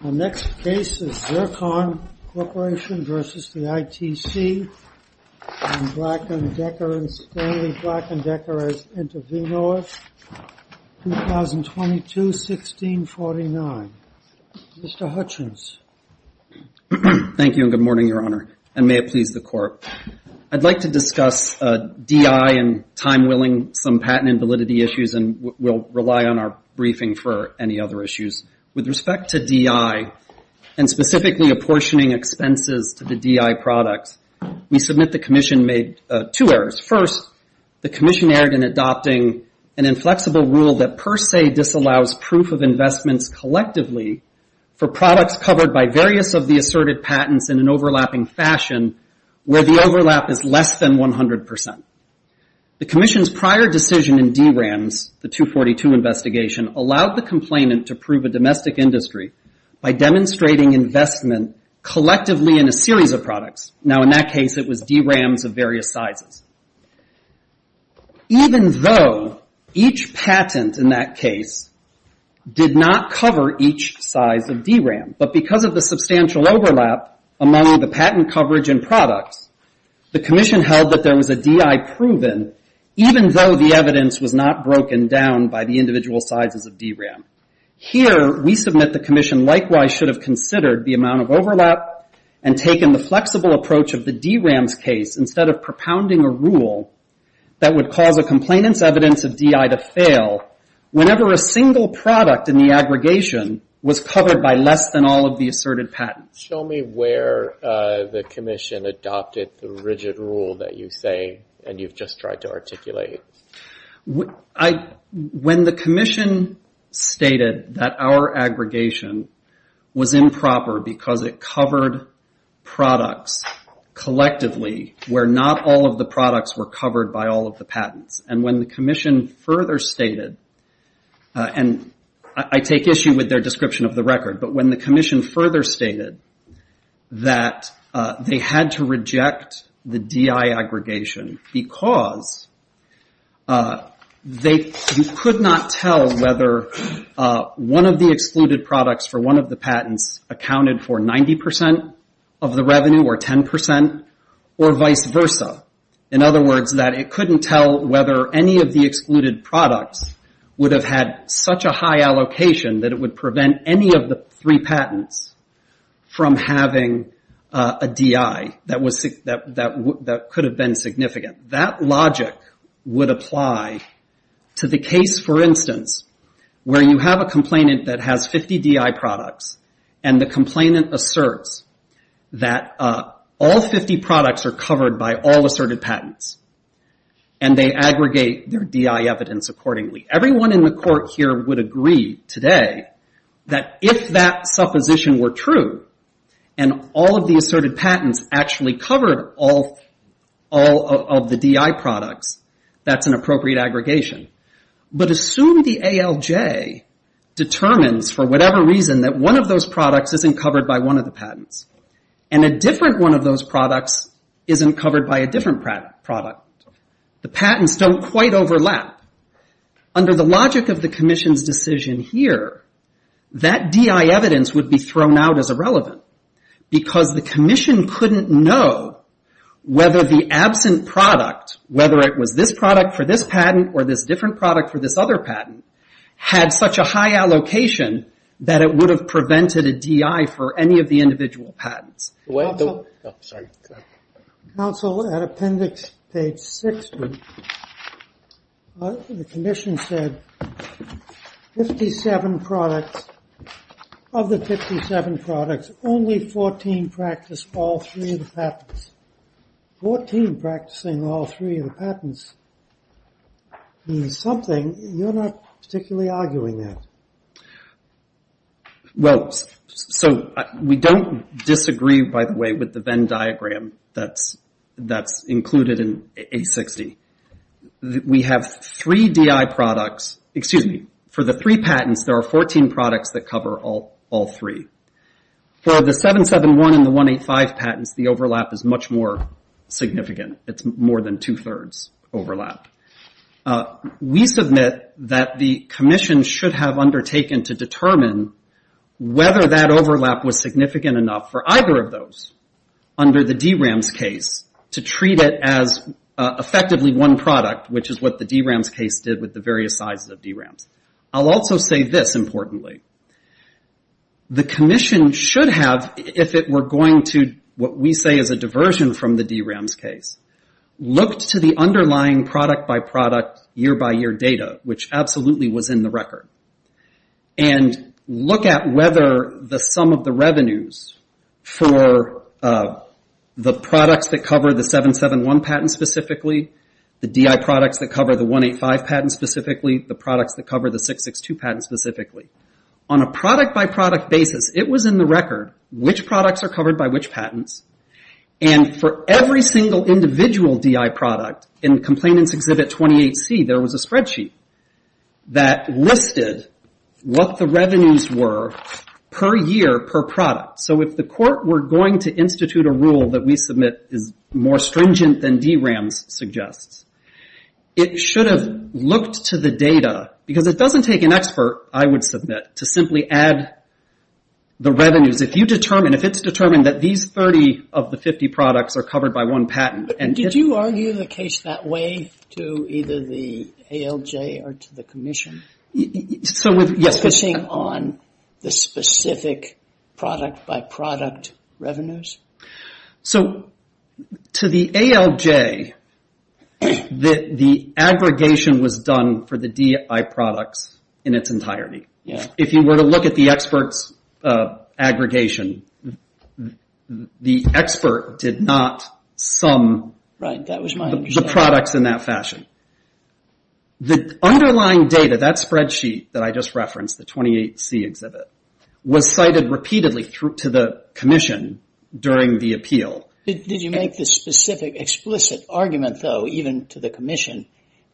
and Stanley Black & Decker as Intervenors, 2022-1649. Mr. Hutchins. Thank you and good morning, Your Honor, and may it please the Court. I'd like to discuss DI and time-willing some patent invalidity issues, and we'll rely on our briefing for any other issues. With respect to DI and specifically apportioning expenses to the DI products, we submit the Commission made two errors. First, the Commission erred in adopting an inflexible rule that per se disallows proof of investments collectively for products covered by various of the asserted patents in an overlapping fashion where the overlap is less than 100%. The Commission's prior decision in DRAMS, the 242 investigation, allowed the complainant to prove a domestic industry by demonstrating investment collectively in a series of products. Now, in that case, it was DRAMS of various sizes. Even though each patent in that case did not cover each size of DRAM, but because of the substantial overlap among the patent coverage and products, the Commission held that there was a DI proven, even though the evidence was not broken down by the individual sizes of DRAM. Here, we submit the Commission likewise should have considered the amount of overlap and taken the flexible approach of the DRAMS case instead of propounding a rule that would cause a complainant's evidence of DI to fail whenever a single product in the aggregation was covered by less than all of the asserted patents. Show me where the Commission adopted the rigid rule that you say, and you've just tried to articulate. When the Commission stated that our aggregation was improper because it covered products collectively where not all of the products were covered by all of the patents, and when the Commission further stated, and I take issue with their description of the record, but when the Commission further stated that they had to reject the DI aggregation because you could not tell whether one of the excluded products for one of the patents accounted for 90% of the revenue or 10% or vice versa. In other words, that it couldn't tell whether any of the excluded products would have had such a high allocation that it would prevent any of the three patents from having a DI that could have been significant. That logic would apply to the case, for instance, where you have a complainant that has 50 DI products, and the complainant asserts that all 50 products are covered by all asserted patents, and they aggregate their DI evidence accordingly. Everyone in the court here would agree today that if that supposition were true and all of the asserted patents actually covered all of the DI products, that's an appropriate aggregation. But assume the ALJ determines for whatever reason that one of those products isn't covered by one of the patents, and a different one of those products isn't covered by a different product. The patents don't quite overlap. Under the logic of the Commission's decision here, that DI evidence would be thrown out as irrelevant because the Commission couldn't know whether the absent product, whether it was this product for this patent or this different product for this other patent, had such a high allocation that it would have prevented a DI for any of the individual patents. Counsel, at appendix page 6, the Commission said, of the 57 products, only 14 practice all three of the patents. Fourteen practicing all three of the patents means something. You're not particularly arguing that. We don't disagree, by the way, with the Venn diagram that's included in A60. We have three DI products. For the three patents, there are 14 products that cover all three. For the 771 and the 185 patents, the overlap is much more significant. It's more than two-thirds overlap. We submit that the Commission should have undertaken to determine whether that overlap was significant enough for either of those under the DRAMS case to treat it as effectively one product, which is what the DRAMS case did with the various sizes of DRAMS. I'll also say this, importantly. The Commission should have, if it were going to what we say is a diversion from the DRAMS case, looked to the underlying product-by-product, year-by-year data, which absolutely was in the record, and look at whether the sum of the revenues for the products that cover the 771 patents specifically, the DI products that cover the 185 patents specifically, the products that cover the 662 patents specifically. On a product-by-product basis, it was in the record which products are covered by which patents, and for every single individual DI product in Complainant's Exhibit 28C, there was a spreadsheet that listed what the revenues were per year, per product. If the court were going to institute a rule that we submit is more stringent than DRAMS suggests, it should have looked to the data, because it doesn't take an expert, I would submit, to simply add the revenues. If it's determined that these 30 of the 50 products are covered by one patent... Did you argue the case that way to either the ALJ or to the Commission? Focusing on the specific product-by-product revenues? To the ALJ, the aggregation was done for the DI products in its entirety. If you were to look at the experts' aggregation, the expert did not sum the products in that fashion. The underlying data, that spreadsheet that I just referenced, the 28C Exhibit, was cited repeatedly to the Commission during the appeal. Did you make the specific explicit argument, though, even to the Commission,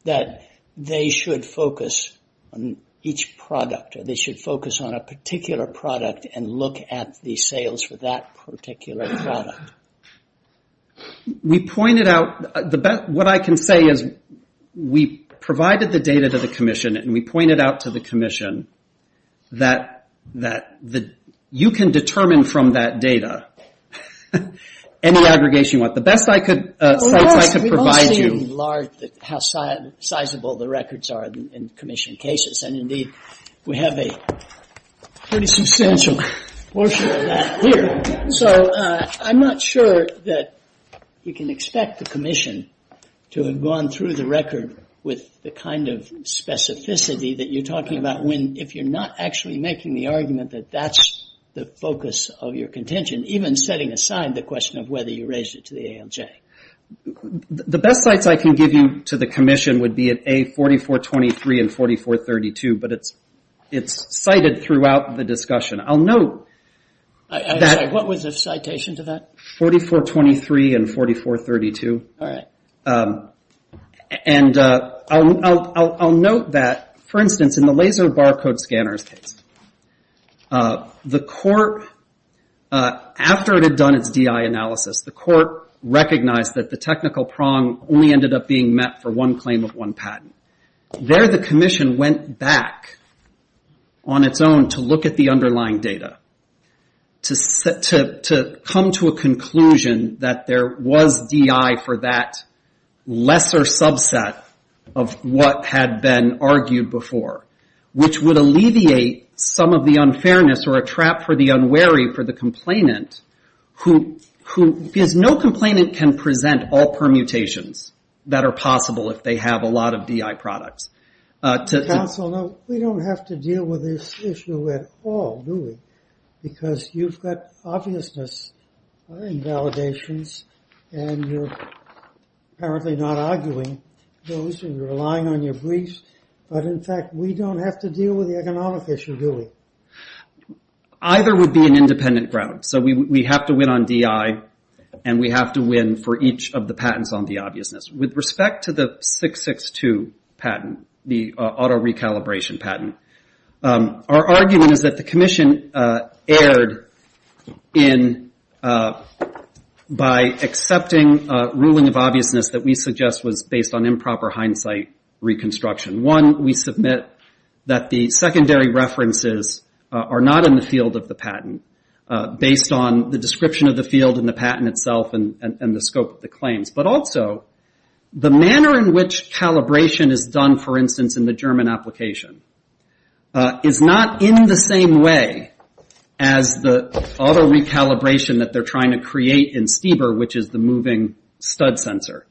that they should focus on each product, or they should focus on a particular product and look at the sales for that particular product? We pointed out... What I can say is we provided the data to the Commission, and we pointed out to the Commission that you can determine from that data any aggregation you want. The best sites I could provide you... We've all seen how sizable the records are in Commission cases, and indeed we have a pretty substantial portion of that here. So I'm not sure that you can expect the Commission to have gone through the record with the kind of specificity that you're talking about if you're not actually making the argument that that's the focus of your contention, even setting aside the question of whether you raised it to the ALJ. The best sites I can give you to the Commission would be at A4423 and 4432, but it's cited throughout the discussion. I'll note that... What was the citation to that? 4423 and 4432. All right. And I'll note that, for instance, in the Laser Barcode Scanners case, the court, after it had done its DI analysis, the court recognized that the technical prong only ended up being met for one claim of one patent. There the Commission went back on its own to look at the underlying data to come to a conclusion that there was DI for that lesser subset of what had been argued before, which would alleviate some of the unfairness or a trap for the unwary for the complainant, because no complainant can present all permutations that are possible if they have a lot of DI products. Counsel, we don't have to deal with this issue at all, do we? Because you've got obviousness invalidations, and you're apparently not arguing those, and you're relying on your briefs. But, in fact, we don't have to deal with the economic issue, do we? Either would be an independent ground. So we have to win on DI, and we have to win for each of the patents on the obviousness. With respect to the 662 patent, the auto-recalibration patent, our argument is that the Commission erred by accepting a ruling of obviousness that we suggest was based on improper hindsight reconstruction. One, we submit that the secondary references are not in the field of the patent, based on the description of the field and the patent itself and the scope of the claims. But also, the manner in which calibration is done, for instance, in the German application, is not in the same way as the auto-recalibration that they're trying to create in Stieber, which is the moving stud sensor.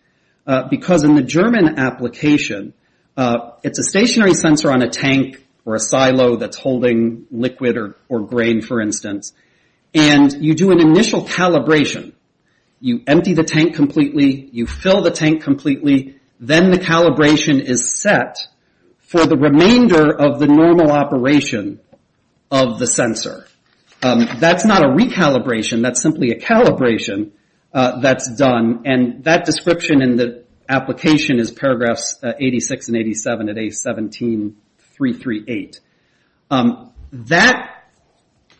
Because in the German application, it's a stationary sensor on a tank or a silo that's holding liquid or grain, for instance. And you do an initial calibration. You empty the tank completely. You fill the tank completely. Then the calibration is set for the remainder of the normal operation of the sensor. That's not a recalibration. That's simply a calibration that's done. And that description in the application is paragraphs 86 and 87 at A17338. That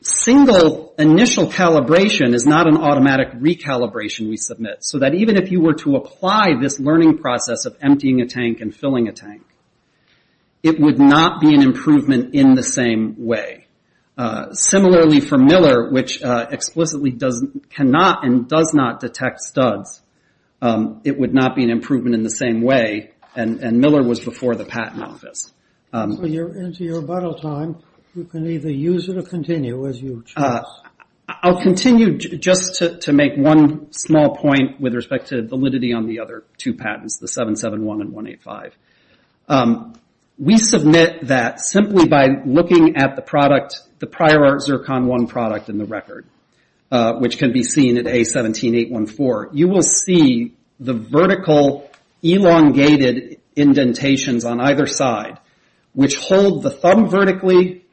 single initial calibration is not an automatic recalibration we submit. So that even if you were to apply this learning process of emptying a tank and filling a tank, it would not be an improvement in the same way. Similarly for Miller, which explicitly cannot and does not detect studs, it would not be an improvement in the same way. And Miller was before the patent office. So you're into your bottle time. You can either use it or continue as you choose. I'll continue just to make one small point with respect to validity on the other two patents, the 771 and 185. We submit that simply by looking at the product, the prior Zircon 1 product in the record, which can be seen at A17814. You will see the vertical elongated indentations on either side, which hold the thumb vertically,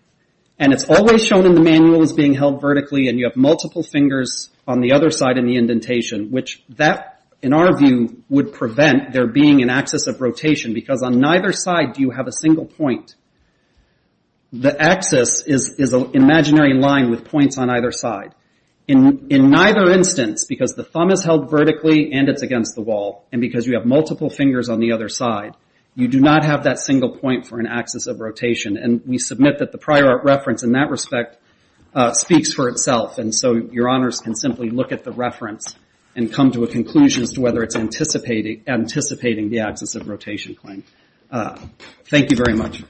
and it's always shown in the manual as being held vertically, and you have multiple fingers on the other side in the indentation, which that, in our view, would prevent there being an axis of rotation, because on neither side do you have a single point. The axis is an imaginary line with points on either side. In neither instance, because the thumb is held vertically and it's against the wall, and because you have multiple fingers on the other side, you do not have that single point for an axis of rotation. And we submit that the prior reference in that respect speaks for itself, and so your honors can simply look at the reference and come to a conclusion as to whether it's anticipating the axis of rotation claim. Thank you very much.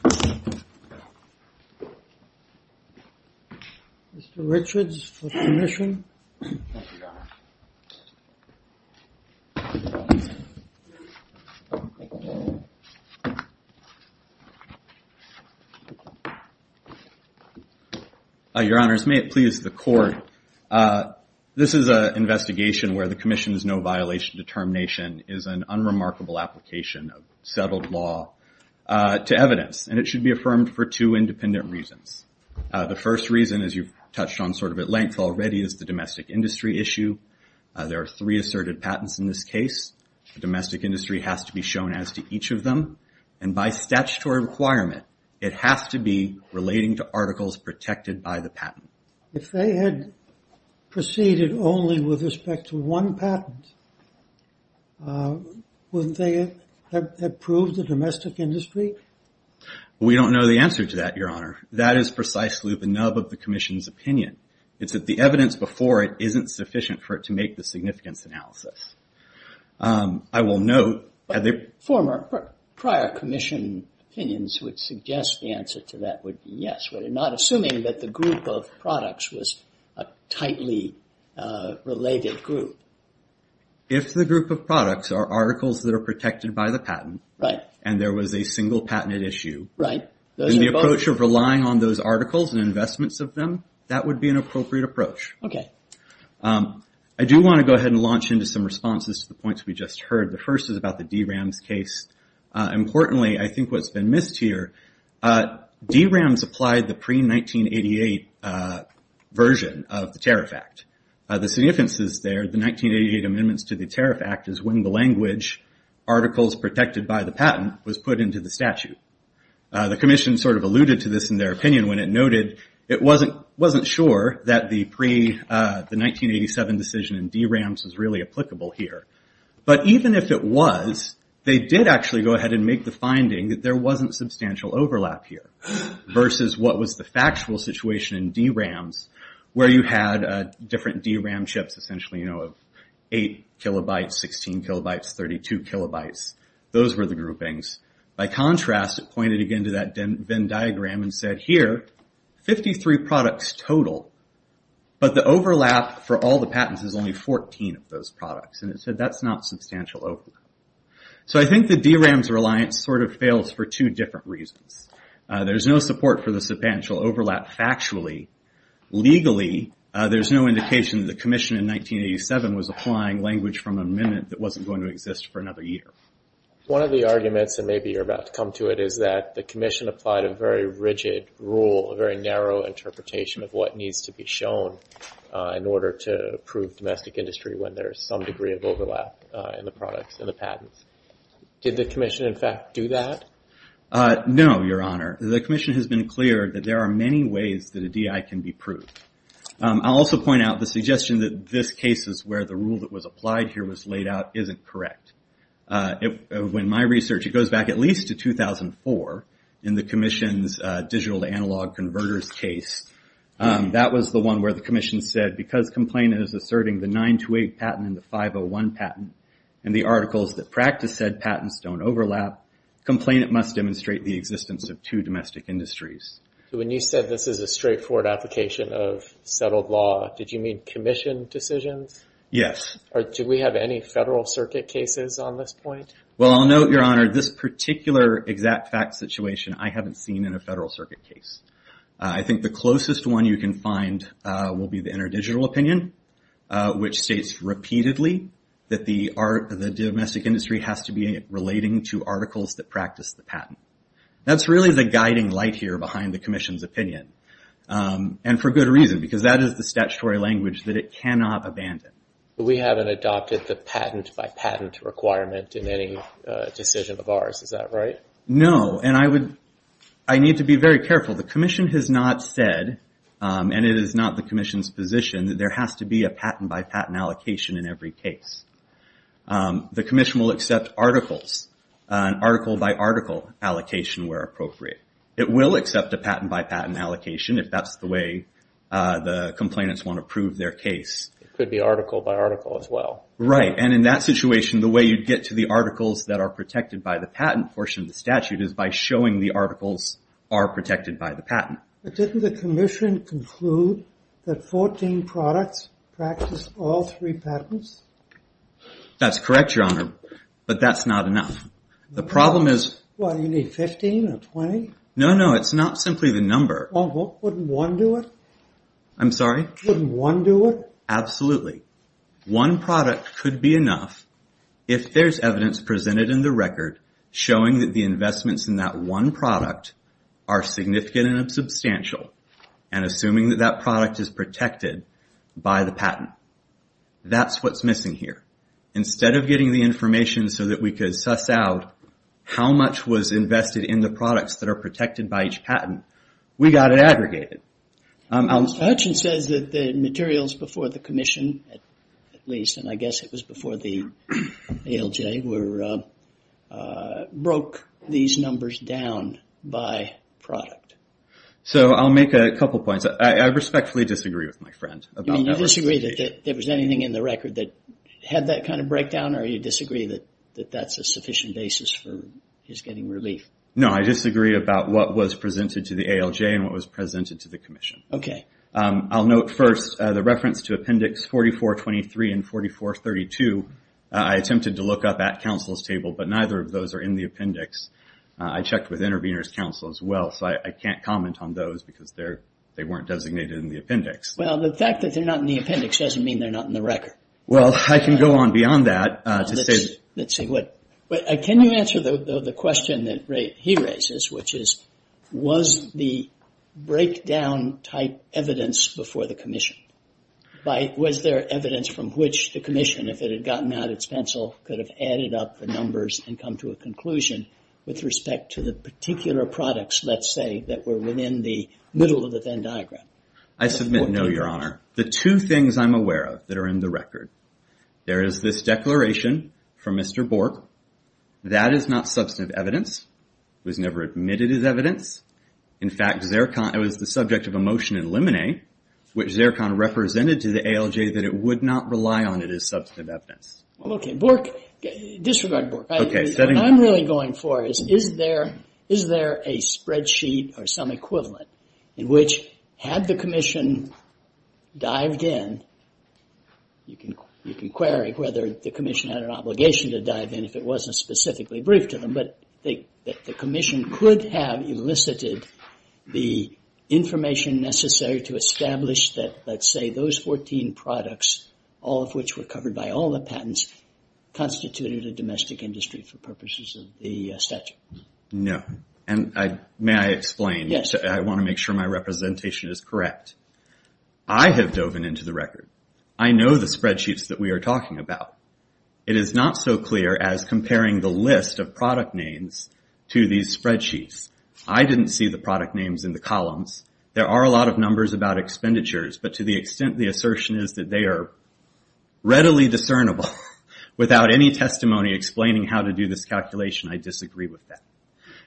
Mr. Richards for commission. Thank you, your honor. Your honors, may it please the court. This is an investigation where the commission's no violation determination is an unremarkable application of settled law to evidence, and it should be affirmed for two independent reasons. The first reason, as you've touched on sort of at length already, is the domestic industry issue. There are three asserted patents in this case. The domestic industry has to be shown as to each of them, and by statutory requirement, it has to be relating to articles protected by the patent. If they had proceeded only with respect to one patent, wouldn't they have proved the domestic industry? We don't know the answer to that, your honor. That is precisely the nub of the commission's opinion. It's that the evidence before it isn't sufficient for it to make the significance analysis. I will note that the former prior commission opinions would suggest the answer to that would be yes, not assuming that the group of products was a tightly related group. If the group of products are articles that are protected by the patent, and there was a single patented issue, and the approach of relying on those articles and investments of them, that would be an appropriate approach. I do want to go ahead and launch into some responses to the points we just heard. The first is about the D-RAMS case. Importantly, I think what's been missed here, D-RAMS applied the pre-1988 version of the Tariff Act. The significance is there, the 1988 amendments to the Tariff Act is when the language, articles protected by the patent, was put into the statute. The commission alluded to this in their opinion when it noted, it wasn't sure that the pre-1987 decision in D-RAMS was really applicable here. Even if it was, they did actually go ahead and make the finding that there wasn't substantial overlap here, versus what was the factual situation in D-RAMS, where you had different D-RAMS chips, essentially of 8 kilobytes, 16 kilobytes, 32 kilobytes. Those were the groupings. By contrast, it pointed again to that Venn diagram and said, here, 53 products total, but the overlap for all the patents is only 14 of those products. It said that's not substantial overlap. I think the D-RAMS reliance fails for two different reasons. There's no support for the substantial overlap factually. Legally, there's no indication that the commission in 1987 was applying language from an amendment that wasn't going to exist for another year. One of the arguments, and maybe you're about to come to it, is that the commission applied a very rigid rule, a very narrow interpretation of what needs to be shown in order to prove domestic industry when there's some degree of overlap in the products and the patents. Did the commission, in fact, do that? No, Your Honor. The commission has been clear that there are many ways that a DI can be proved. I'll also point out the suggestion that this case is where the rule that was applied here was laid out isn't correct. In my research, it goes back at least to 2004 in the commission's digital to analog converters case. That was the one where the commission said, because complainant is asserting the 928 patent and the 501 patent and the articles that practice said patents don't overlap, complainant must demonstrate the existence of two domestic industries. So when you said this is a straightforward application of settled law, did you mean commission decisions? Yes. Do we have any Federal Circuit cases on this point? Well, I'll note, Your Honor, this particular exact fact situation, I haven't seen in a Federal Circuit case. I think the closest one you can find will be the interdigital opinion, which states repeatedly that the domestic industry has to be relating to articles that practice the patent. That's really the guiding light here behind the commission's opinion, and for good reason, because that is the statutory language that it cannot abandon. But we haven't adopted the patent-by-patent requirement in any decision of ours. Is that right? No, and I need to be very careful. The commission has not said, and it is not the commission's position, that there has to be a patent-by-patent allocation in every case. The commission will accept articles, an article-by-article allocation, where appropriate. It will accept a patent-by-patent allocation, if that's the way the complainants want to prove their case. It could be article-by-article as well. Right, and in that situation, the way you'd get to the articles that are protected by the patent portion of the statute is by showing the articles are protected by the patent. But didn't the commission conclude that 14 products practice all three patents? That's correct, Your Honor, but that's not enough. The problem is... What, you need 15 or 20? No, no, it's not simply the number. Well, wouldn't one do it? I'm sorry? Wouldn't one do it? Absolutely. One product could be enough if there's evidence presented in the record showing that the investments in that one product are significant and substantial and assuming that that product is protected by the patent. That's what's missing here. Instead of getting the information so that we could suss out how much was invested in the products that are protected by each patent, we got it aggregated. Hutchins says that the materials before the commission, at least, and I guess it was before the ALJ, broke these numbers down by product. So I'll make a couple points. I respectfully disagree with my friend. You disagree that there was anything in the record that had that kind of breakdown, or you disagree that that's a sufficient basis for his getting relief? No, I disagree about what was presented to the ALJ and what was presented to the commission. Okay. I'll note first the reference to Appendix 4423 and 4432. I attempted to look up at counsel's table, but neither of those are in the appendix. I checked with intervener's counsel as well, so I can't comment on those because they weren't designated in the appendix. Well, the fact that they're not in the appendix doesn't mean they're not in the record. Well, I can go on beyond that. Can you answer the question that he raises, which is, was the breakdown type evidence before the commission? Was there evidence from which the commission, if it had gotten out its pencil, could have added up the numbers and come to a conclusion with respect to the particular products, let's say, that were within the middle of the Venn diagram? I submit no, Your Honor. The two things I'm aware of that are in the record, there is this declaration from Mr. Bork. That is not substantive evidence. It was never admitted as evidence. In fact, it was the subject of a motion in Limine, which Zercon represented to the ALJ that it would not rely on it as substantive evidence. Well, okay. Disregard Bork. What I'm really going for is, is there a spreadsheet or some equivalent in which, had the commission dived in, you can query whether the commission had an obligation to dive in if it wasn't specifically briefed to them, but the commission could have elicited the information necessary to establish that, let's say, those 14 products, all of which were covered by all the patents, constituted a domestic industry for purposes of the statute. No. And may I explain? Yes. I want to make sure my representation is correct. I have dove in into the record. I know the spreadsheets that we are talking about. It is not so clear as comparing the list of product names to these spreadsheets. I didn't see the product names in the columns. There are a lot of numbers about expenditures, but to the extent the assertion is that they are readily discernible, without any testimony explaining how to do this calculation, I disagree with that.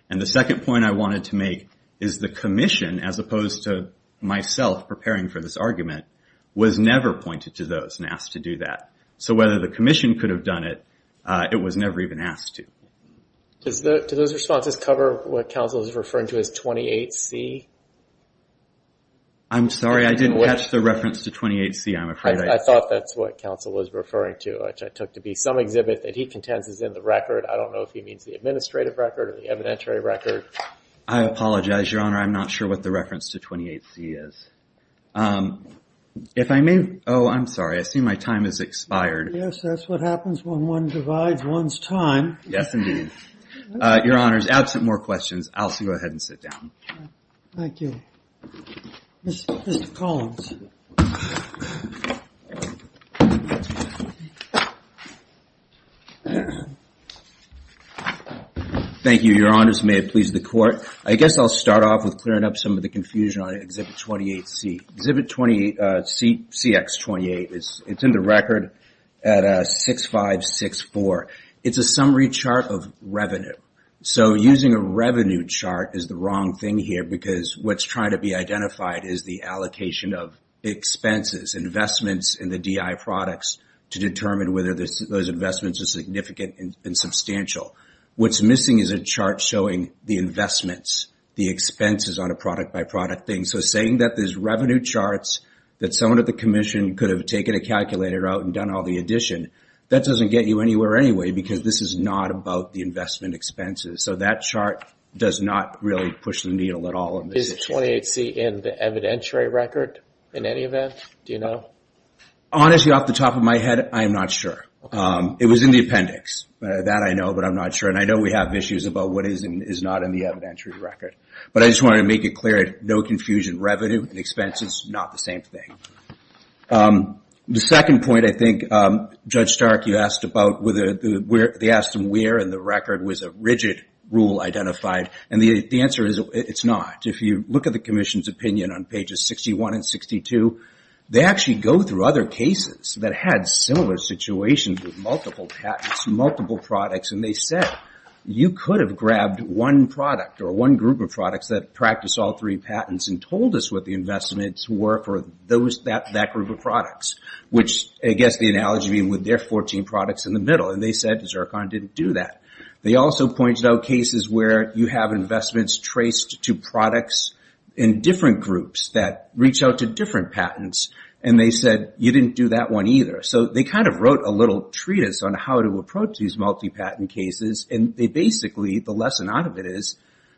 And the second point I wanted to make is the commission, as opposed to myself preparing for this argument, was never pointed to those and asked to do that. So whether the commission could have done it, it was never even asked to. Does those responses cover what counsel is referring to as 28C? I'm sorry. I didn't catch the reference to 28C, I'm afraid. I thought that's what counsel was referring to, which I took to be some exhibit that he contends is in the record. I don't know if he means the administrative record or the evidentiary record. I apologize, Your Honor. I'm not sure what the reference to 28C is. Oh, I'm sorry. I see my time has expired. Yes, that's what happens when one divides one's time. Yes, indeed. Your Honors, absent more questions, I'll go ahead and sit down. Thank you. Mr. Collins. Thank you, Your Honors. May it please the Court. I guess I'll start off with clearing up some of the confusion on Exhibit 28C. Exhibit 28CX28, it's in the record at 6564. It's a summary chart of revenue. So using a revenue chart is the wrong thing here because what's trying to be identified is the allocation of expenses, investments in the DI products, to determine whether those investments are significant and substantial. What's missing is a chart showing the investments, the expenses on a product-by-product thing. So saying that there's revenue charts, that someone at the Commission could have taken a calculator out and done all the addition, that doesn't get you anywhere anyway because this is not about the investment expenses. So that chart does not really push the needle at all. Is 28C in the evidentiary record in any event? Do you know? Honestly, off the top of my head, I am not sure. It was in the appendix. That I know, but I'm not sure. And I know we have issues about what is and is not in the evidentiary record. But I just wanted to make it clear, no confusion. Revenue and expenses, not the same thing. The second point, I think, Judge Stark, you asked about whether they asked them where in the record was a rigid rule identified, and the answer is it's not. If you look at the Commission's opinion on pages 61 and 62, they actually go through other cases that had similar situations with multiple patents, multiple products, and they said you could have grabbed one product or one group of products that practiced all three patents and told us what the investments were for that group of products, which I guess the analogy would be with their 14 products in the middle. And they said Zircon didn't do that. They also pointed out cases where you have investments traced to products in different groups that reach out to different patents, and they said you didn't do that one either. So they kind of wrote a little treatise on how to approach these multi-patent cases, and they basically, the lesson out of it is,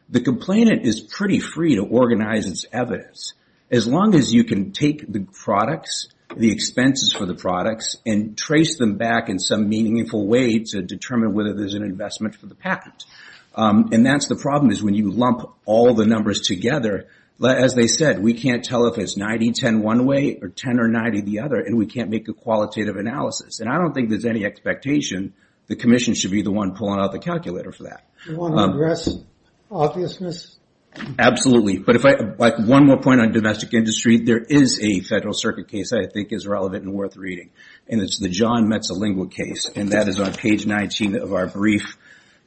the complainant is pretty free to organize its evidence as long as you can take the products, the expenses for the products, and trace them back in some meaningful way to determine whether there's an investment for the patent. And that's the problem is when you lump all the numbers together, as they said, we can't tell if it's 90-10 one way or 10 or 90 the other, and we can't make a qualitative analysis. And I don't think there's any expectation the commission should be the one pulling out the calculator for that. Do you want to address obviousness? Absolutely, but one more point on domestic industry. There is a federal circuit case I think is relevant and worth reading, and it's the John Metzalingua case, and that is on page 19 of our brief.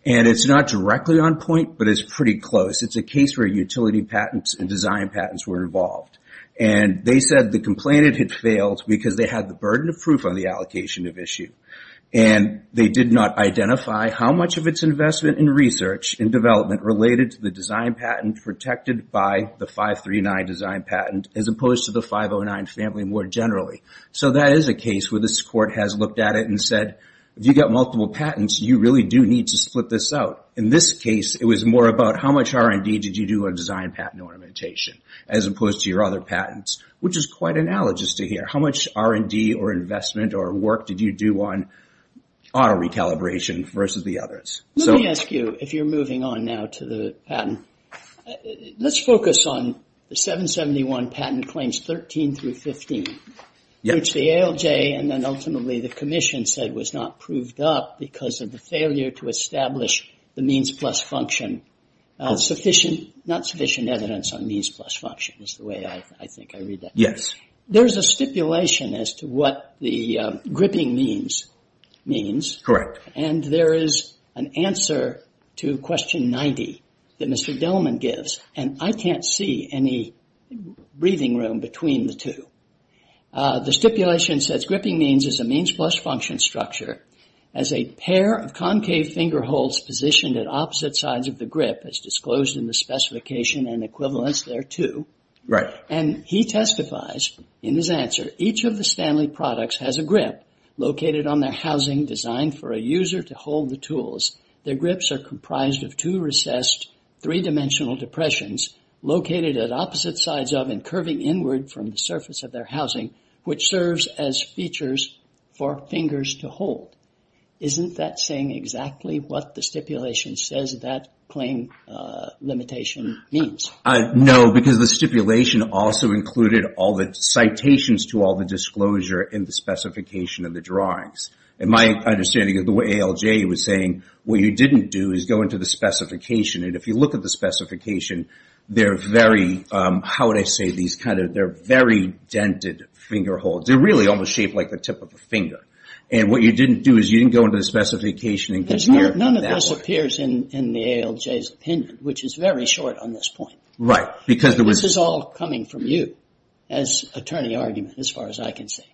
And it's not directly on point, but it's pretty close. It's a case where utility patents and design patents were involved. And they said the complainant had failed because they had the burden of proof on the allocation of issue. And they did not identify how much of its investment in research and development related to the design patent protected by the 539 design patent as opposed to the 509 family more generally. So that is a case where this court has looked at it and said, if you've got multiple patents, you really do need to split this out. In this case, it was more about how much R&D did you do on design patent ornamentation as opposed to your other patents, which is quite analogous to here. How much R&D or investment or work did you do on auto recalibration versus the others? Let me ask you, if you're moving on now to the patent, let's focus on the 771 patent claims 13 through 15, which the ALJ and then ultimately the commission said was not proved up because of the failure to establish the means plus function sufficient, not sufficient evidence on means plus function is the way I think I read that. Yes. There's a stipulation as to what the gripping means. Correct. And there is an answer to question 90 that Mr. Delman gives, and I can't see any breathing room between the two. The stipulation says gripping means is a means plus function structure as a pair of concave finger holds positioned at opposite sides of the grip as disclosed in the specification and equivalence thereto. Right. And he testifies in his answer, each of the Stanley products has a grip located on their housing designed for a user to hold the tools. Their grips are comprised of two recessed three-dimensional depressions located at opposite sides of and curving inward from the surface of their housing, which serves as features for fingers to hold. Isn't that saying exactly what the stipulation says that claim limitation means? No, because the stipulation also included all the citations to all the disclosure in the specification of the drawings. And my understanding of the way ALJ was saying, what you didn't do is go into the specification. And if you look at the specification, they're very, how would I say these kind of, they're very dented finger holds. They're really almost shaped like the tip of a finger. And what you didn't do is you didn't go into the specification. None of this appears in the ALJ's opinion, which is very short on this point. Right. This is all coming from you as attorney argument as far as I can see.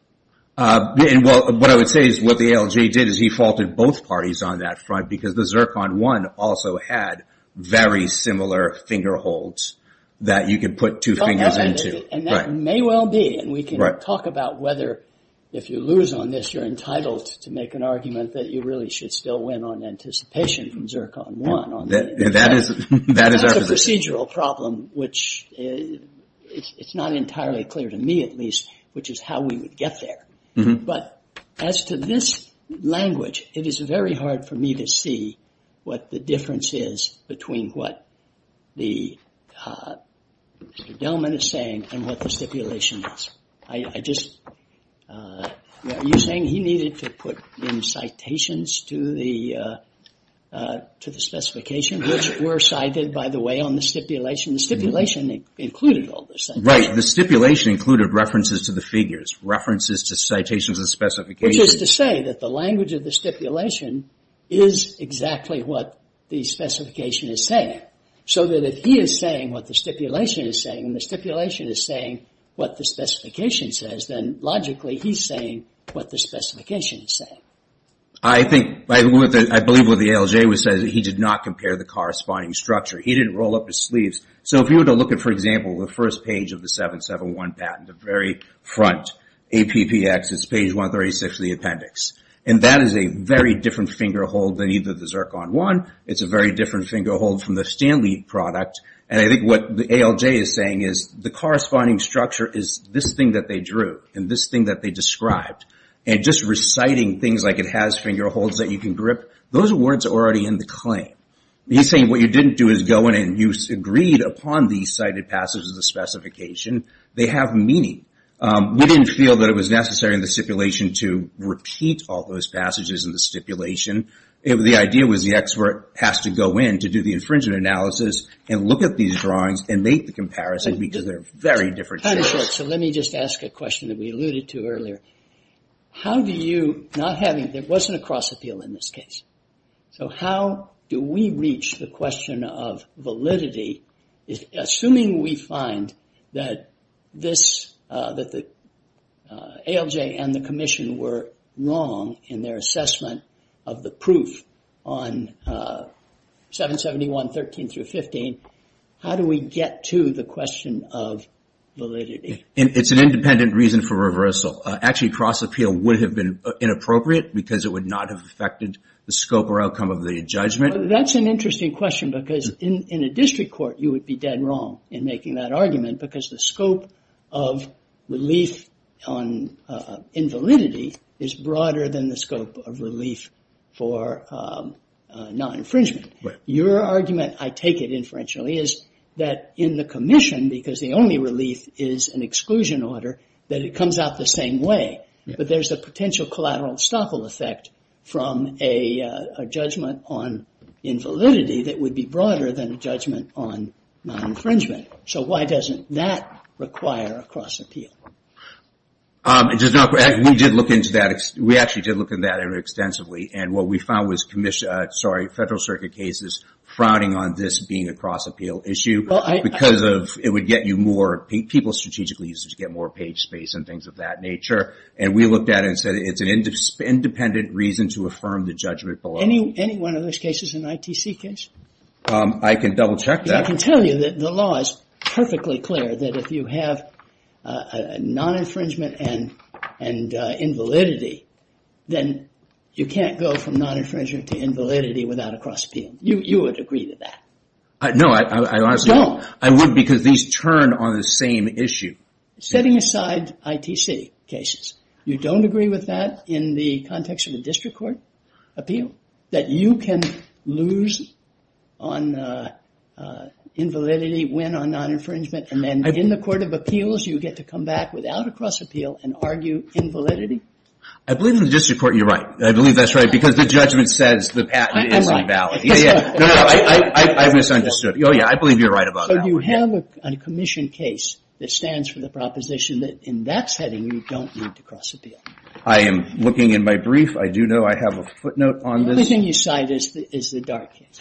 What I would say is what the ALJ did is he faulted both parties on that front because the Zircon One also had very similar finger holds that you could put two fingers into. And that may well be, and we can talk about whether if you lose on this, you're entitled to make an argument that you really should still win on anticipation from Zircon One. That is our position. That's a procedural problem, which it's not entirely clear to me at least, which is how we would get there. But as to this language, it is very hard for me to see what the difference is between what the gentleman is saying and what the stipulation is. Are you saying he needed to put in citations to the specification, which were cited, by the way, on the stipulation? The stipulation included all this. Right. The stipulation included references to the figures, references to citations and specifications. Which is to say that the language of the stipulation is exactly what the specification is saying. So that if he is saying what the stipulation is saying and the stipulation is saying what the specification says, then logically he's saying what the specification is saying. I believe what the ALJ says is that he did not compare the corresponding structure. He didn't roll up his sleeves. So if you were to look at, for example, the first page of the 771 patent, the very front, APPX, it's page 136 of the appendix. And that is a very different finger hold than either the Zircon 1. It's a very different finger hold from the Stanley product. And I think what the ALJ is saying is the corresponding structure is this thing that they drew and this thing that they described. And just reciting things like it has finger holds that you can grip, those words are already in the claim. He's saying what you didn't do is go in and you agreed upon these cited passages of the specification. They have meaning. We didn't feel that it was necessary in the stipulation to repeat all those passages in the stipulation. The idea was the expert has to go in to do the infringement analysis and look at these drawings and make the comparison because they're very different figures. So let me just ask a question that we alluded to earlier. How do you, not having, there wasn't a cross appeal in this case, so how do we reach the question of validity assuming we find that the ALJ and the commission were wrong in their assessment of the proof on 771.13-15, how do we get to the question of validity? It's an independent reason for reversal. Actually, cross appeal would have been inappropriate because it would not have affected the scope or outcome of the judgment. That's an interesting question because in a district court you would be dead wrong in making that argument because the scope of relief on invalidity is broader than the scope of relief for non-infringement. Your argument, I take it inferentially, is that in the commission because the only relief is an exclusion order that it comes out the same way. But there's a potential collateral estoppel effect from a judgment on invalidity that would be broader than a judgment on non-infringement. So why doesn't that require a cross appeal? We did look into that. We actually did look into that extensively and what we found was federal circuit cases frowning on this being a cross appeal issue because it would get you more, people strategically used to get more page space and things of that nature. And we looked at it and said it's an independent reason to affirm the judgment below. Any one of those cases is an ITC case? I can double check that. I can tell you that the law is perfectly clear that if you have non-infringement and invalidity then you can't go from non-infringement to invalidity without a cross appeal. You would agree to that. No, I honestly would. You don't. I would because these turn on the same issue. Setting aside ITC cases, you don't agree with that in the context of a district court appeal? That you can lose on invalidity when on non-infringement and then in the court of appeals you get to come back without a cross appeal and argue invalidity? I believe in the district court you're right. I believe that's right because the judgment says the patent is invalid. I misunderstood. I believe you're right about that. You have a commission case that stands for the proposition that in that setting you don't need to cross appeal. I am looking in my brief. I do know I have a footnote on this. The only thing you cite is the Dart case.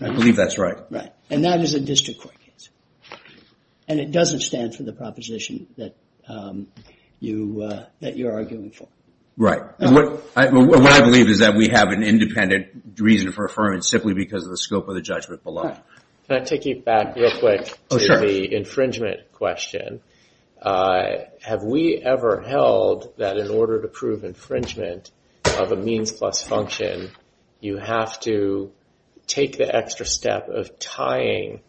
I believe that's right. Right. And that is a district court case. And it doesn't stand for the proposition that you're arguing for. Right. What I believe is that we have an independent reason for affirming simply because of the scope of the judgment below. Can I take you back real quick to the infringement question? Have we ever held that in order to prove infringement of a means plus function you have to take the extra step of tying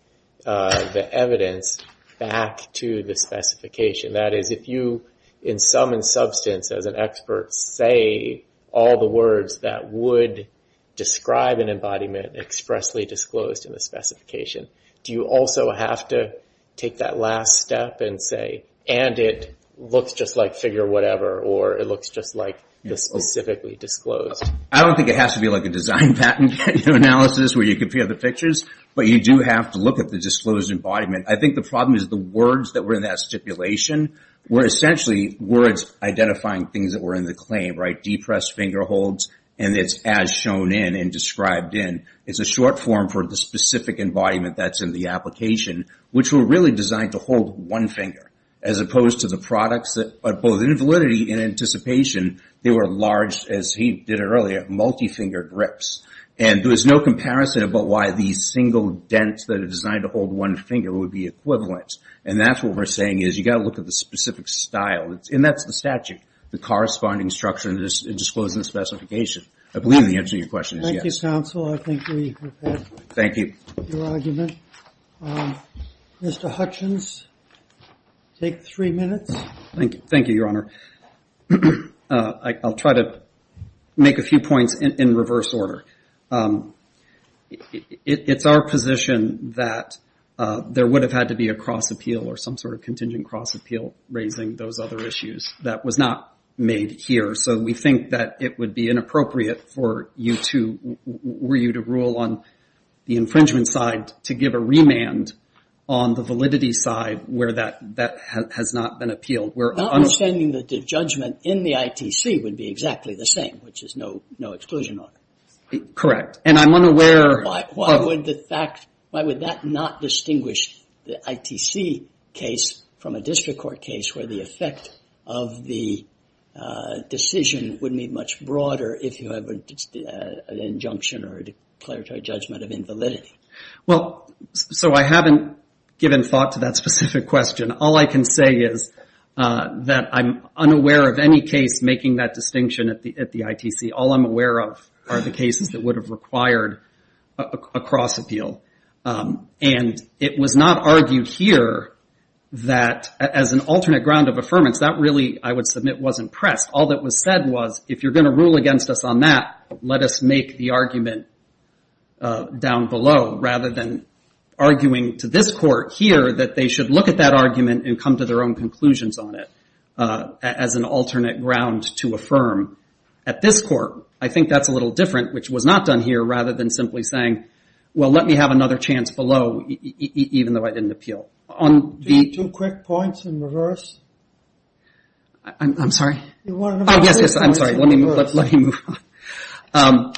the evidence back to the specification? That is, if you in sum and substance as an expert say all the words that would describe an embodiment expressly disclosed in the specification, do you also have to take that last step and say and it looks just like figure whatever or it looks just like the specifically disclosed? I don't think it has to be like a design patent analysis where you compare the pictures, but you do have to look at the disclosed embodiment. I think the problem is the words that were in that stipulation were essentially words identifying things that were in the claim, right? Depressed finger holds and it's as shown in and described in. It's a short form for the specific embodiment that's in the application which were really designed to hold one finger as opposed to the products that both in validity and anticipation they were large, as he did earlier, multi-fingered grips. And there was no comparison about why these single dents that are designed to hold one finger would be equivalent. And that's what we're saying is you've got to look at the specific style. And that's the statute, the corresponding structure in the disclosed specification. I believe the answer to your question is yes. Thank you, counsel. I think we have had your argument. Mr. Hutchins, take three minutes. Thank you, Your Honor. I'll try to make a few points in reverse order. It's our position that there would have had to be a cross appeal or some sort of contingent cross appeal raising those other issues. That was not made here. So we think that it would be inappropriate for you to rule on the infringement side to give a remand on the validity side where that has not been appealed. Not understanding that the judgment in the ITC would be exactly the same, which is no exclusion order. Correct. And I'm unaware... Why would that not distinguish the ITC case from a district court case where the effect of the decision would be much broader if you have an injunction or a declaratory judgment of invalidity? Well, so I haven't given thought to that specific question. All I can say is that I'm unaware of any case making that distinction at the ITC. All I'm aware of are the cases that would have required a cross appeal. And it was not argued here that as an alternate ground of affirmance, that really, I would submit, wasn't pressed. All that was said was, if you're going to rule against us on that, let us make the argument down below rather than arguing to this court here that they should look at that argument and come to their own conclusions on it as an alternate ground to affirm. At this court, I think that's a little different, which was not done here, rather than simply saying, well, let me have another chance below even though I didn't appeal. Two quick points in reverse. I'm sorry? Yes, yes, I'm sorry. Let me move on.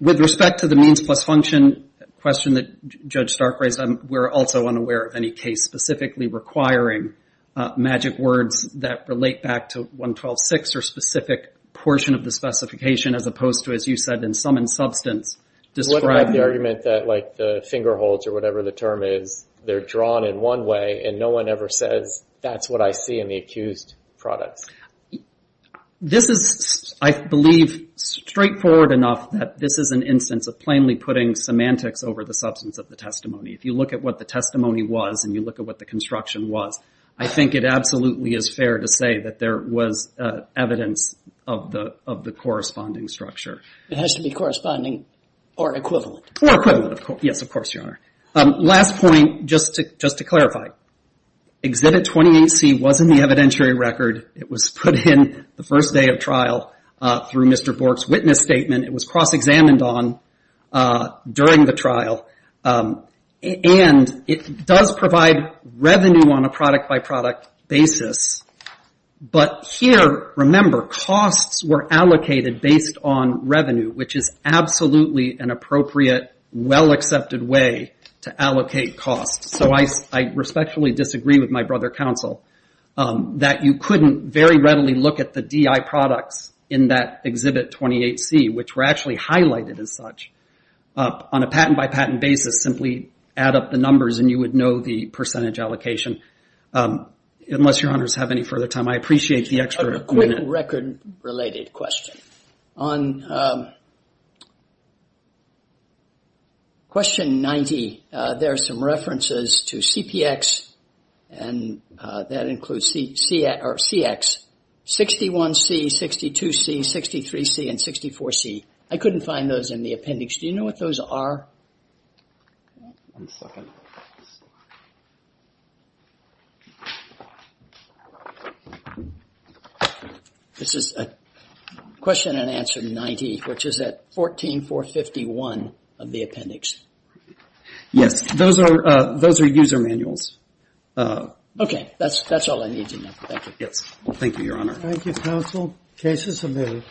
With respect to the means plus function question that Judge Stark raised, we're also unaware of any case specifically requiring magic words that relate back to 112.6 or specific portion of the specification as opposed to, as you said, in sum and substance describing... they're drawn in one way and no one ever says, that's what I see in the accused products. This is, I believe, straightforward enough that this is an instance of plainly putting semantics over the substance of the testimony. If you look at what the testimony was and you look at what the construction was, I think it absolutely is fair to say that there was evidence of the corresponding structure. It has to be corresponding or equivalent. Or equivalent, of course. Last point, just to clarify. Exhibit 28C wasn't the evidentiary record. It was put in the first day of trial through Mr. Bork's witness statement. It was cross-examined on during the trial. And it does provide revenue on a product-by-product basis. But here, remember, costs were allocated based on revenue, which is absolutely an appropriate, well-accepted way to allocate costs. So I respectfully disagree with my brother counsel that you couldn't very readily look at the DI products in that exhibit 28C, which were actually highlighted as such on a patent-by-patent basis. Simply add up the numbers and you would know the percentage allocation. Unless your honors have any further time, I appreciate the extra equipment. A quick record-related question. On question 90, there are some references to CPX and that includes CX. 61C, 62C, 63C, and 64C. I couldn't find those in the appendix. Do you know what those are? One second. This is a question and answer 90, which is at 14451 of the appendix. Yes, those are user manuals. Okay, that's all I need to know. Thank you. Thank you, Your Honor. Thank you, counsel. Cases submitted.